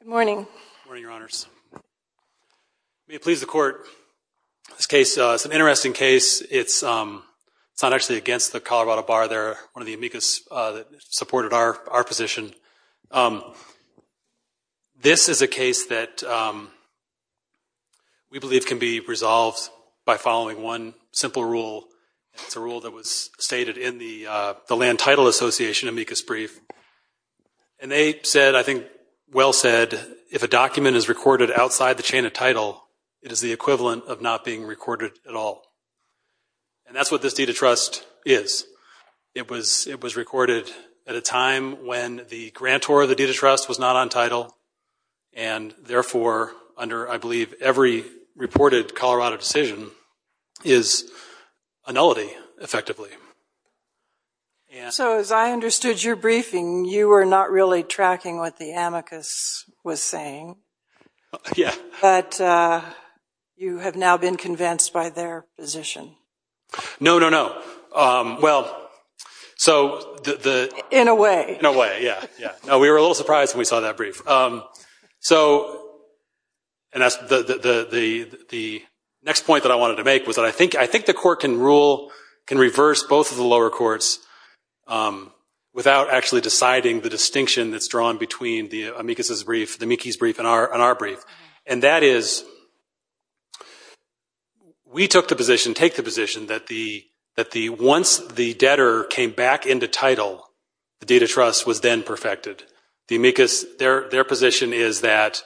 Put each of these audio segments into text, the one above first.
Good morning. Good morning, Your Honors. May it please the Court, this case is an interesting case. It's not actually against the Colorado Bar. They're one of the amicus that supported our position. This is a case that we believe can be resolved by following one simple rule. It's a rule that was stated in the Land Title Association amicus brief. And they said, I think well said, if a document is recorded outside the chain of title, it is the equivalent of not being recorded at all. And that's what this deed of trust is. It was recorded at a time when the grantor of the deed of trust was not on title. And therefore, under I believe every reported Colorado decision is a nullity, effectively. So as I understood your briefing, you were not really tracking what the amicus was saying. Yeah. But you have now been convinced by their position. No, no, no. Well, so the In a way. In a way, yeah. We were a little surprised when we saw that brief. So and that's the next point that I wanted to make was that I think the court can rule, can reverse both of the lower courts without actually deciding the distinction that's drawn between the amicus's brief, the mickey's brief, and our brief. And that is, we took the position, take the The amicus, their position is that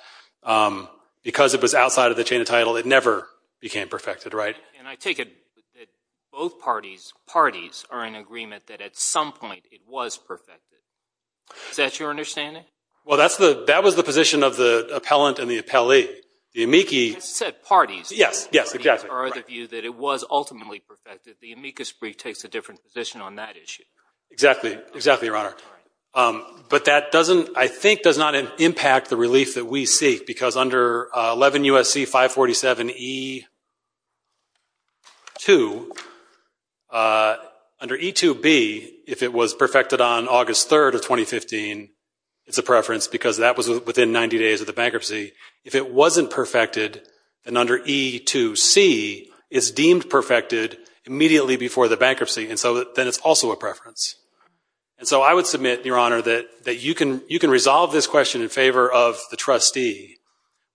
because it was outside of the chain of title, it never became perfected, right? And I take it that both parties are in agreement that at some point it was perfected. Is that your understanding? Well, that's the, that was the position of the appellant and the appellee. The amici Just said parties. Yes, yes, exactly. Parties are of the view that it was ultimately perfected. The amicus brief takes a different position on that issue. Exactly, exactly, Your Honor. But that doesn't, I think does not impact the relief that we seek because under 11 U.S.C. 547E2, under E2B, if it was perfected on August 3rd of 2015, it's a preference because that was within 90 days of the bankruptcy. If it wasn't perfected, then under E2C, it's deemed perfected immediately before the bankruptcy. And so then it's also a preference. And so I would submit, Your Honor, that, that you can, you can resolve this question in favor of the trustee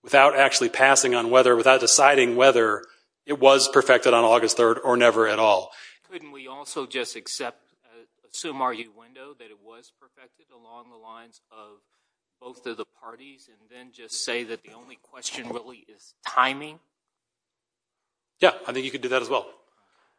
without actually passing on whether, without deciding whether it was perfected on August 3rd or never at all. Couldn't we also just accept, assume our window that it was perfected along the lines of both of the parties and then just say that the only question really is timing? Yeah, I think you could do that as well.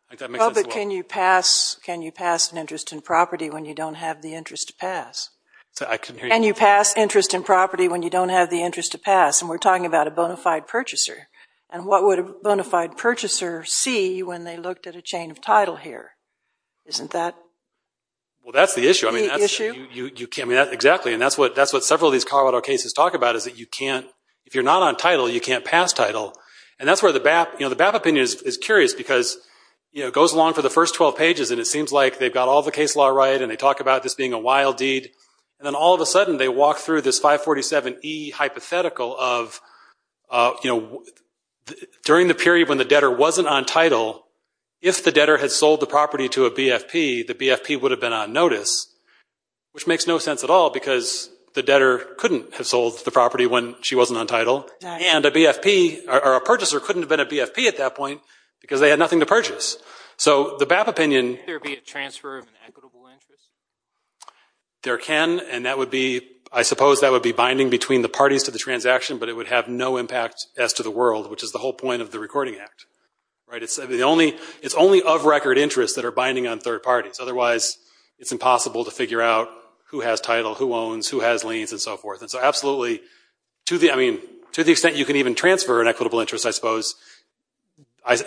I think that makes sense as well. Well, but can you pass, can you pass an interest in property when you don't have the interest to pass? I'm sorry, I couldn't hear you. Can you pass interest in property when you don't have the interest to pass? And we're talking about a bona fide purchaser. And what would a bona fide purchaser see when they looked at a chain of title here? Isn't that the issue? Well, that's the issue. I mean, that's, you can't, I mean, that, exactly. And that's what, that's what several of these Colorado cases talk about is that you can't, if you're not on title, you can't pass title. And that's where the BAP, you know, the BAP opinion is curious because, you know, it goes along for the first 12 pages and it seems like they've got all the case law right and they talk about this being a wild deed. And then all of a sudden they walk through this 547E hypothetical of, you know, during the period when the debtor wasn't on title, if the debtor had sold the property to a BFP, the BFP would have been on notice, which makes no sense at all because the debtor couldn't have sold the property when she wasn't on title. And a BFP, or a purchaser couldn't have been a BFP at that point because they had nothing to purchase. So, the BAP opinion... Could there be a transfer of an equitable interest? There can, and that would be, I suppose that would be binding between the parties to the transaction, but it would have no impact as to the world, which is the whole point of the Recording Act. Right? It's the only, it's only of record interest that are binding on third parties. Otherwise, it's impossible to figure out who has title, who owns, who has liens, and so forth. And so absolutely, to the, I mean, to the extent you can even transfer an equitable interest, I suppose,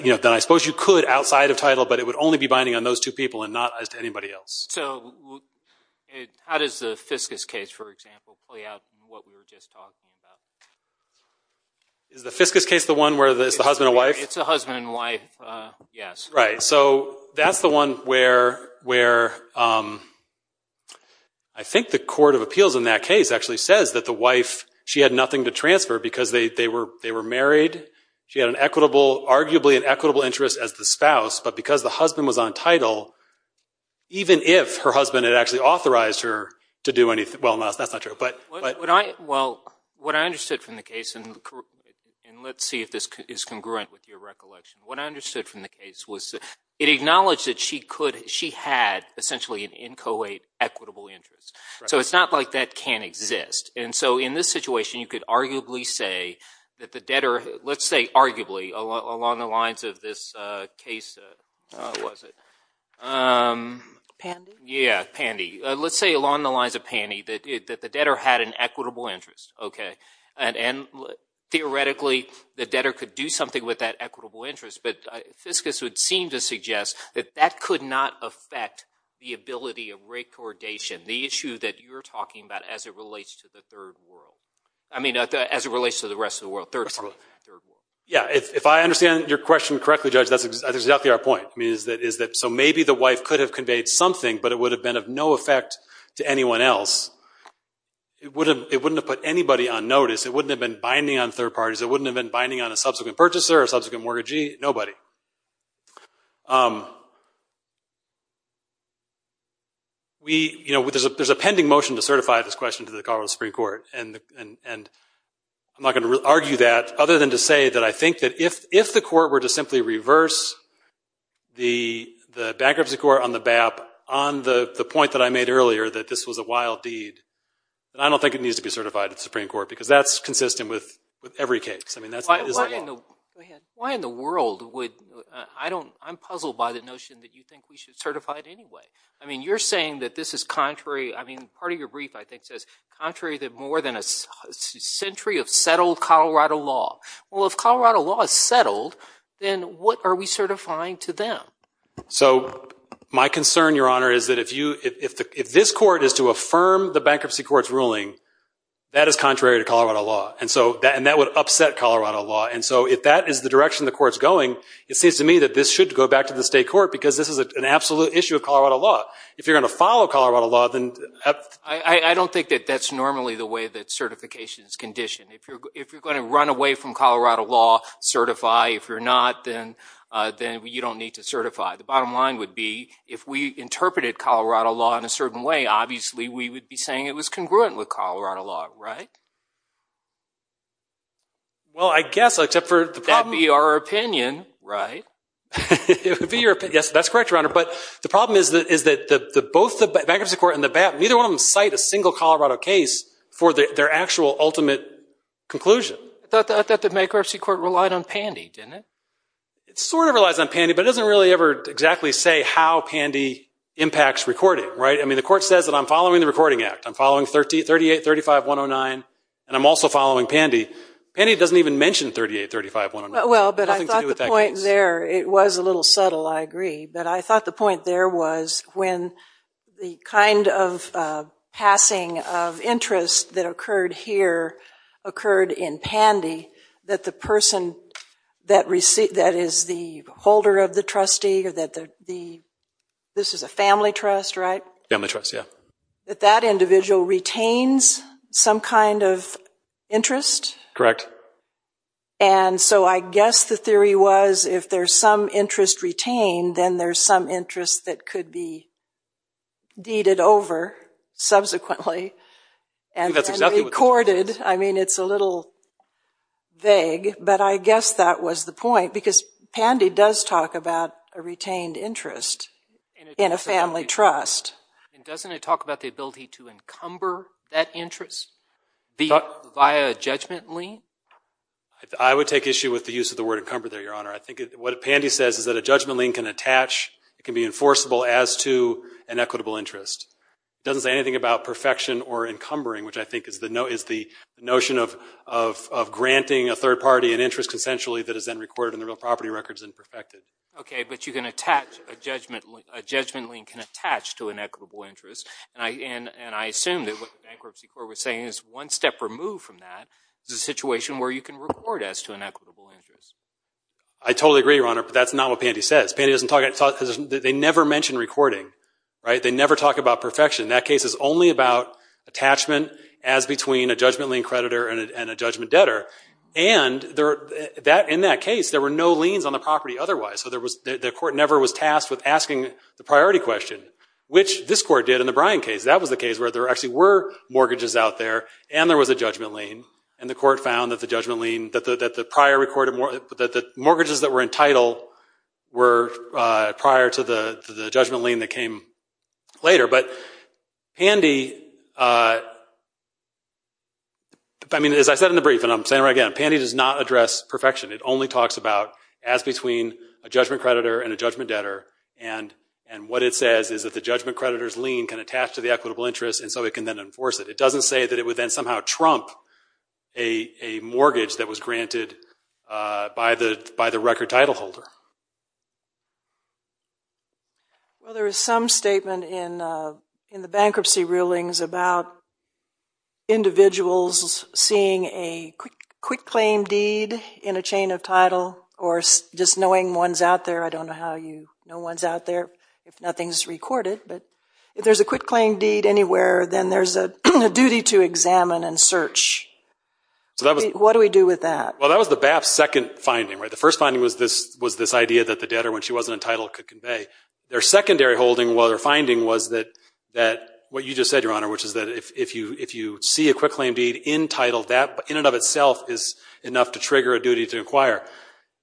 you know, then I suppose you could outside of title, but it would only be binding on those two people and not as to anybody else. So, how does the Fiscus case, for example, play out in what we were just talking about? Is the Fiscus case the one where it's the husband and wife? It's the husband and wife, yes. Right. So, that's the one where, where I think the court of appeals in that case actually says that the wife, she had nothing to transfer because they were married. She had an equitable, arguably an equitable interest as the spouse, but because the husband was on title, even if her husband had actually authorized her to do anything, well, that's not true, but... Well, what I understood from the case, and let's see if this is congruent with your recollection. What I understood from the case was it acknowledged that she could, she had essentially an in co-ed equitable interest. So, it's not like that can't exist. And so, in this situation, you could arguably say that the debtor, let's say arguably, along the lines of this case, what was it? Pandy? Yeah, Pandy. Let's say along the lines of Pandy that the debtor had an equitable interest, okay. And theoretically, the debtor could do something with that equitable interest, but Fiskus would seem to suggest that that could not affect the ability of recordation, the issue that you're talking about as it relates to the third world. I mean, as it relates to the rest of the world, third world. Yeah. If I understand your question correctly, Judge, that's exactly our point. I mean, so maybe the wife could have conveyed something, but it would have been of no effect to anyone else. It wouldn't have put anybody on notice. It wouldn't have been binding on third parties. It wouldn't have been binding on a subsequent purchaser or subsequent mortgagee, nobody. We, you know, there's a pending motion to certify this question to the Colorado Supreme Court, and I'm not going to argue that other than to say that I think that if the court were to simply reverse the bankruptcy court on the BAP on the point that I made earlier that this was a wild deed, that I don't think it needs to be certified at the Supreme Court, because that's consistent with every case. I mean, that's- Why in the world would, I don't, I'm puzzled by the notion that you think we should certify it anyway. I mean, you're saying that this is contrary. I mean, part of your brief, I think, says contrary to more than a century of settled Colorado law. Well, if Colorado law is settled, then what are we certifying to them? So, my concern, Your Honor, is that if you, if this court is to affirm the bankruptcy court's ruling, that is contrary to Colorado law. And so, that would upset Colorado law. And so, if that is the direction the court's going, it seems to me that this should go back to the state court because this is an absolute issue of Colorado law. If you're going to follow Colorado law, then- I don't think that that's normally the way that certification is conditioned. If you're going to run away from Colorado law, certify. If you're not, then you don't need to certify. The bottom line would be, if we interpreted Colorado law in a certain way, obviously, we would be saying it was congruent with Colorado law, right? Well, I guess, except for the problem- That'd be our opinion, right? It would be your opinion. Yes, that's correct, Your Honor. But the problem is that both the bankruptcy court and the BAP, neither one of them cite a single Colorado case for their actual ultimate conclusion. I thought that the bankruptcy court relied on Pandy, didn't it? It sort of relies on Pandy, but it doesn't really ever exactly say how Pandy impacts recording, right? I mean, the court says that I'm following the Recording Act. I'm following 3835-109, and I'm also following Pandy. Pandy doesn't even mention 3835-109. Well, but I thought the point there, it was a little subtle, I agree. But I thought the passing of interest that occurred here occurred in Pandy, that the person that is the holder of the trustee, this is a family trust, right? Family trust, yeah. That that individual retains some kind of interest? Correct. And so I guess the theory was, if there's some interest retained, then there's some subsequently and then recorded. I mean, it's a little vague, but I guess that was the point, because Pandy does talk about a retained interest in a family trust. And doesn't it talk about the ability to encumber that interest via a judgment lien? I would take issue with the use of the word encumber there, Your Honor. I think what Pandy says is that a judgment lien can attach, it can be enforceable as to an equitable interest. It doesn't say anything about perfection or encumbering, which I think is the notion of granting a third party an interest consensually that is then recorded in the real property records and perfected. OK, but you can attach, a judgment lien can attach to an equitable interest. And I assume that what the Bankruptcy Court was saying is one step removed from that is a situation where you can record as to an equitable interest. I totally agree, Your Honor, but that's not what Pandy says. Pandy doesn't talk about, they never mention recording. They never talk about perfection. That case is only about attachment as between a judgment lien creditor and a judgment debtor. And in that case, there were no liens on the property otherwise. So the court never was tasked with asking the priority question, which this court did in the Bryan case. That was the case where there actually were mortgages out there, and there was a judgment lien. And the court found that the prior recorded, that the mortgages that were in title were prior to the judgment lien that came later. But Pandy, I mean, as I said in the brief, and I'm saying it again, Pandy does not address perfection. It only talks about as between a judgment creditor and a judgment debtor. And what it says is that the judgment creditor's lien can attach to the equitable interest, and so it can then enforce it. It doesn't say that it would then somehow trump a mortgage that was granted by the record title holder. Well, there is some statement in the bankruptcy rulings about individuals seeing a quick claim deed in a chain of title, or just knowing one's out there. I don't know how you know one's out there if nothing's recorded. But if there's a quick claim deed anywhere, then there's a duty to examine and search. What do we do with that? Well, that was the BAP's second finding, right? The first finding was this idea that the debtor when she wasn't in title could convey. Their secondary holding, well, their finding was that what you just said, Your Honor, which is that if you see a quick claim deed in title, that in and of itself is enough to trigger a duty to inquire.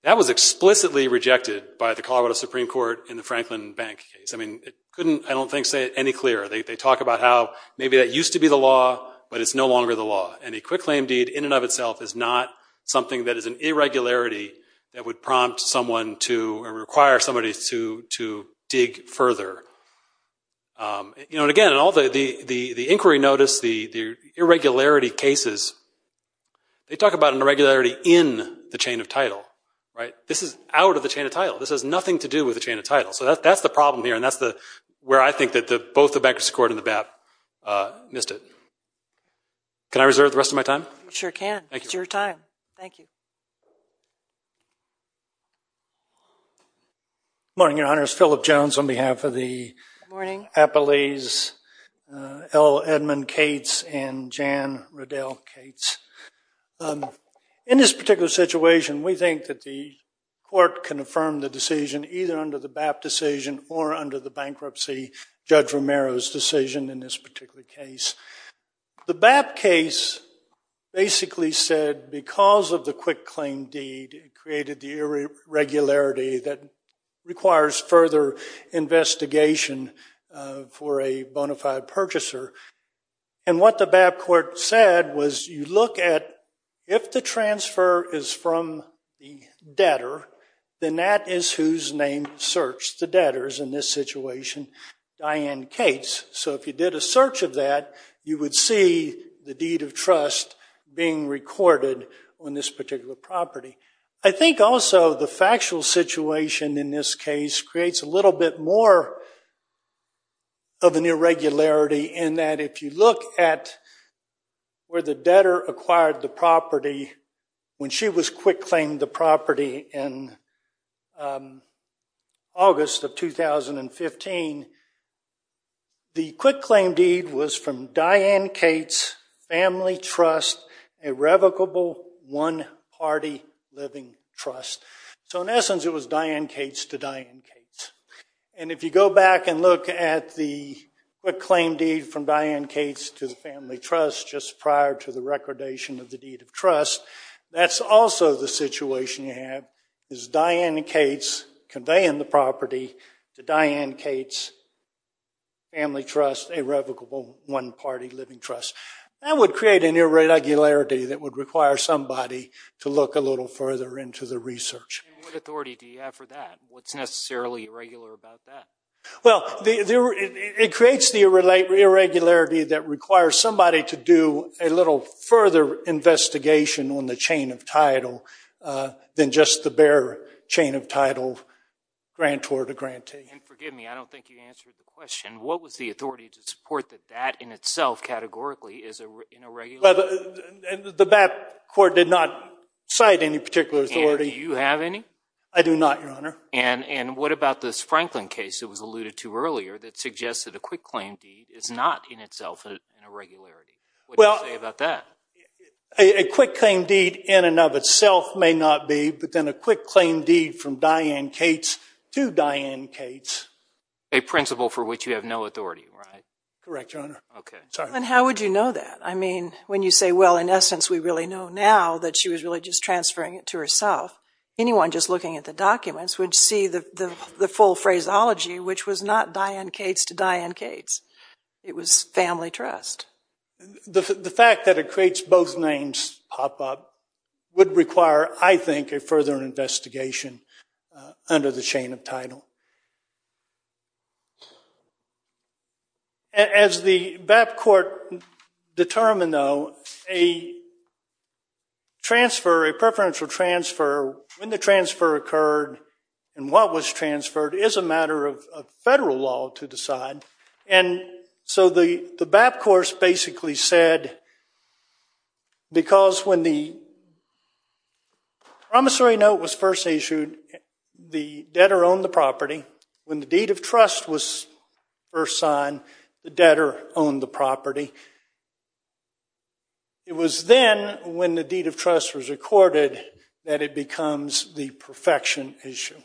That was explicitly rejected by the Colorado Supreme Court in the Franklin Bank case. I mean, it couldn't, I don't think, say it any clearer. They talk about how maybe that used to be the law, but it's no longer the law. And a quick claim deed in and of itself is not something that is an irregularity that would prompt someone to, or require somebody to dig further. Again, the inquiry notice, the irregularity cases, they talk about an irregularity in the chain of title, right? This is out of the chain of title. This has nothing to do with the chain of title. So that's the problem here, and that's where I think that both the Bankruptcy Court and the BAP missed it. Can I reserve the rest of my time? You sure can. It's your time. Thank you. Good morning, Your Honor. It's Philip Jones on behalf of the Appalese, L. Edmund Cates, and Jan Riddell Cates. In this particular situation, we think that the BAP decision or under the bankruptcy, Judge Romero's decision in this particular case, the BAP case basically said because of the quick claim deed, it created the irregularity that requires further investigation for a bona fide purchaser. And what the BAP court said was you transfer is from the debtor, then that is whose name searched the debtors in this situation, Diane Cates. So if you did a search of that, you would see the deed of trust being recorded on this particular property. I think also the factual situation in this case creates a little bit more of an irregularity in that if you look at where the debtor acquired the property when she was quick claimed the property in August of 2015, the quick claim deed was from Diane Cates, family trust, irrevocable one party living trust. So in essence, it was Diane Cates to Diane Cates. And if you go back and look at the quick claim deed from the deed of trust, that's also the situation you have is Diane Cates conveying the property to Diane Cates, family trust, irrevocable one party living trust. That would create an irregularity that would require somebody to look a little further into the research. And what authority do you have for that? What's necessarily irregular about that? Well, it creates the irregularity that requires somebody to do a little further investigation on the chain of title than just the bare chain of title grantor to grantee. And forgive me, I don't think you answered the question. What was the authority to support that that in itself categorically is an irregularity? The BAP court did not cite any particular authority. And do you have any? I do not, Your Honor. And what about this Franklin case that was alluded to earlier that suggests that a quick claim deed is not in itself an irregularity? What do you say about that? A quick claim deed in and of itself may not be, but then a quick claim deed from Diane Cates to Diane Cates. A principle for which you have no authority, right? Correct, Your Honor. Okay. And how would you know that? I mean, when you say, well, in essence, we really know now that she was really just transferring it to herself, anyone just looking at the documents would see the full phraseology, which was not Diane Cates to Diane Cates. It was family trust. The fact that it creates both names pop up would require, I think, a further investigation under the chain of title. As the BAP court determined, though, a transfer, a preferential transfer, when the transfer occurred and what was transferred is a matter of federal law to decide. And so the BAP course basically said, because when the promissory note was first issued, the debtor owned the property, when the deed of trust was first signed, the debtor owned the property. It was then when the deed of trust was recorded that it becomes the perfection issue.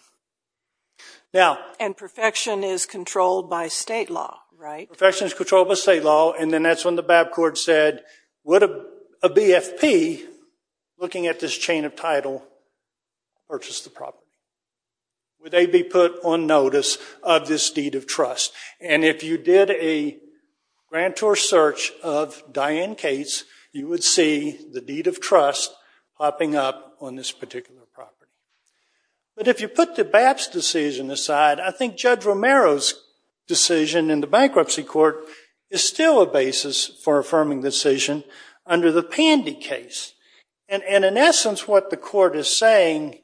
And perfection is controlled by state law, right? Perfection is controlled by state law, and then that's when the BAP court said, would a BFP looking at this chain of title purchase the property? Would they be put on notice of this deed of trust? And if you did a grantor search of Diane Cates, you would see the deed of trust popping up on this particular property. But if you put the BAP's decision aside, I think Judge Romero's decision in the bankruptcy court is still a basis for affirming the decision under the Pandy case. And in essence, what the court is saying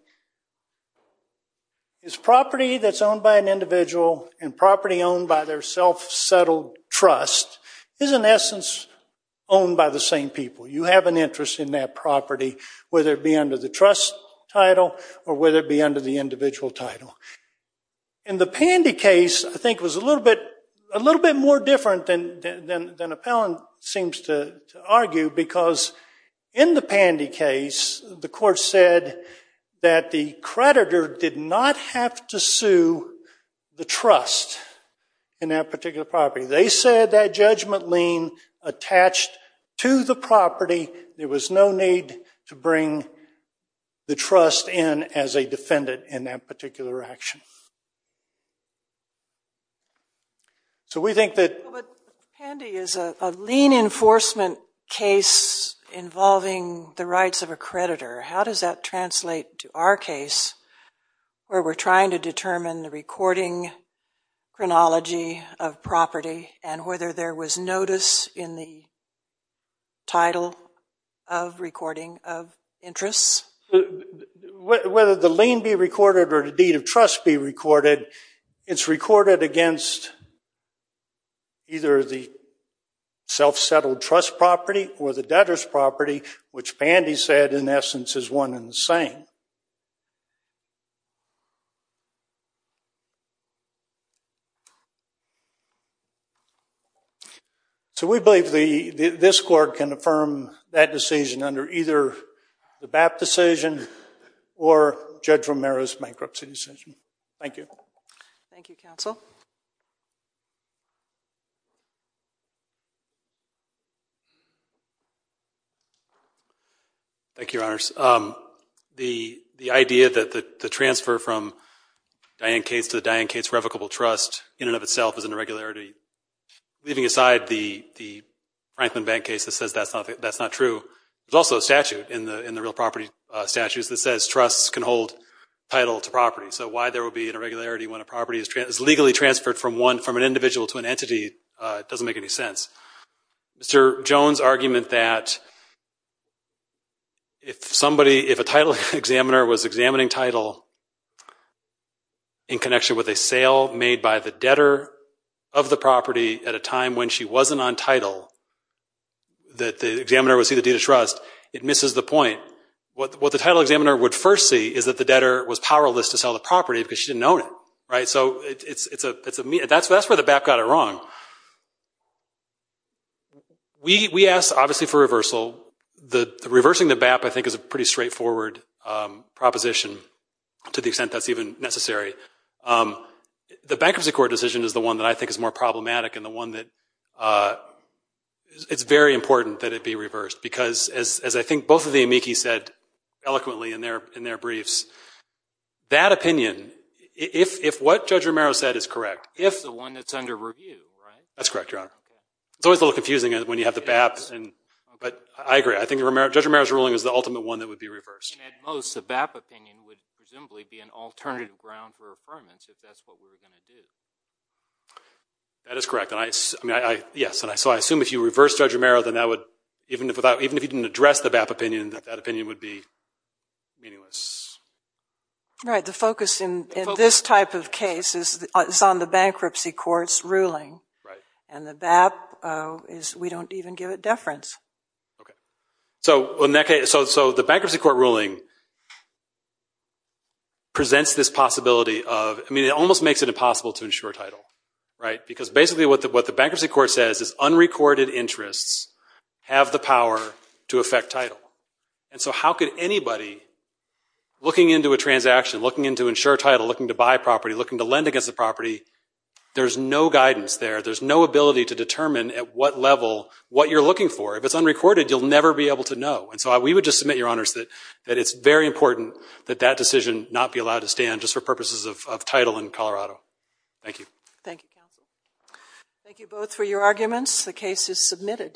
is property that's owned by an individual and property owned by their self-settled trust is in essence owned by the same people. You have an interest in that property, whether it be under the trust title or whether it be under the individual title. In the Pandy case, I think it was a little bit more different than Appellant seems to argue, because in the Pandy case, the court said that the creditor did not have to sue the trust in that particular property. They said that judgment lien attached to the property. There was no need to bring the trust in as a defendant in that particular action. So we think that... But Pandy is a lien enforcement case involving the rights of a creditor. How does that translate to our case, where we're trying to determine the recording chronology of property and whether there was notice in the title of recording of interests? Whether the lien be recorded or the deed of trust be recorded, it's recorded against either the self-settled trust property or the debtor's property, which Pandy said, in essence, is one and the same. So we believe this court can affirm that decision under either the BAP decision or Judge Romero's bankruptcy decision. Thank you. Thank you, counsel. Thank you, Your Honors. The idea that the transfer from Diane Cates to the Diane Cates revocable trust in and of itself is an irregularity, leaving aside the Franklin Bank case that says that's not true, there's also a statute in the real property statutes that says trusts can hold title to property. So why there would be an irregularity when a property is legally transferred from an individual to an entity doesn't make any sense. Mr. Jones' argument that if a title examiner was examining title in connection with a sale made by the debtor of the property at a time when she wasn't on title, that the examiner would see the deed of trust, it misses the point. What the title examiner would first see is that the debtor was powerless to sell the property because she didn't own it. So that's where the BAP got it wrong. We asked, obviously, for reversal. Reversing the BAP, I think, is a pretty straightforward proposition to the extent that's even necessary. The bankruptcy court decision is the one that I think is more problematic and the one that it's very important that it be reversed because, as I think both of the amici said eloquently in their briefs, that opinion, if what Judge Romero said is correct. It's the one that's under review, right? That's correct, Your Honor. It's always a little confusing when you have the BAP. But I agree. I think Judge Romero's ruling is the ultimate one that would be reversed. At most, the BAP opinion would presumably be an alternative ground for affirmance if that's what we were going to do. That is correct. Yes. So I assume if you reversed Judge Romero, then that would, even if you didn't address the BAP opinion, that that opinion would be meaningless. Right. The focus in this type of case is on the bankruptcy court's ruling. Right. And the BAP, we don't even give it deference. Okay. So the bankruptcy court ruling presents this possibility of, I mean, it almost makes it impossible to ensure title, right? Because basically what the bankruptcy court says is unrecorded interests have the power to affect title. And so how could anybody, looking into a transaction, looking into ensure title, looking to buy property, looking to lend against the property, there's no guidance there. There's no ability to determine at what level what you're looking for. If it's unrecorded, you'll never be able to know. And so we would just submit, Your Honors, that it's very important that that decision not be allowed to stand just for purposes of title in Colorado. Thank you. Thank you, counsel.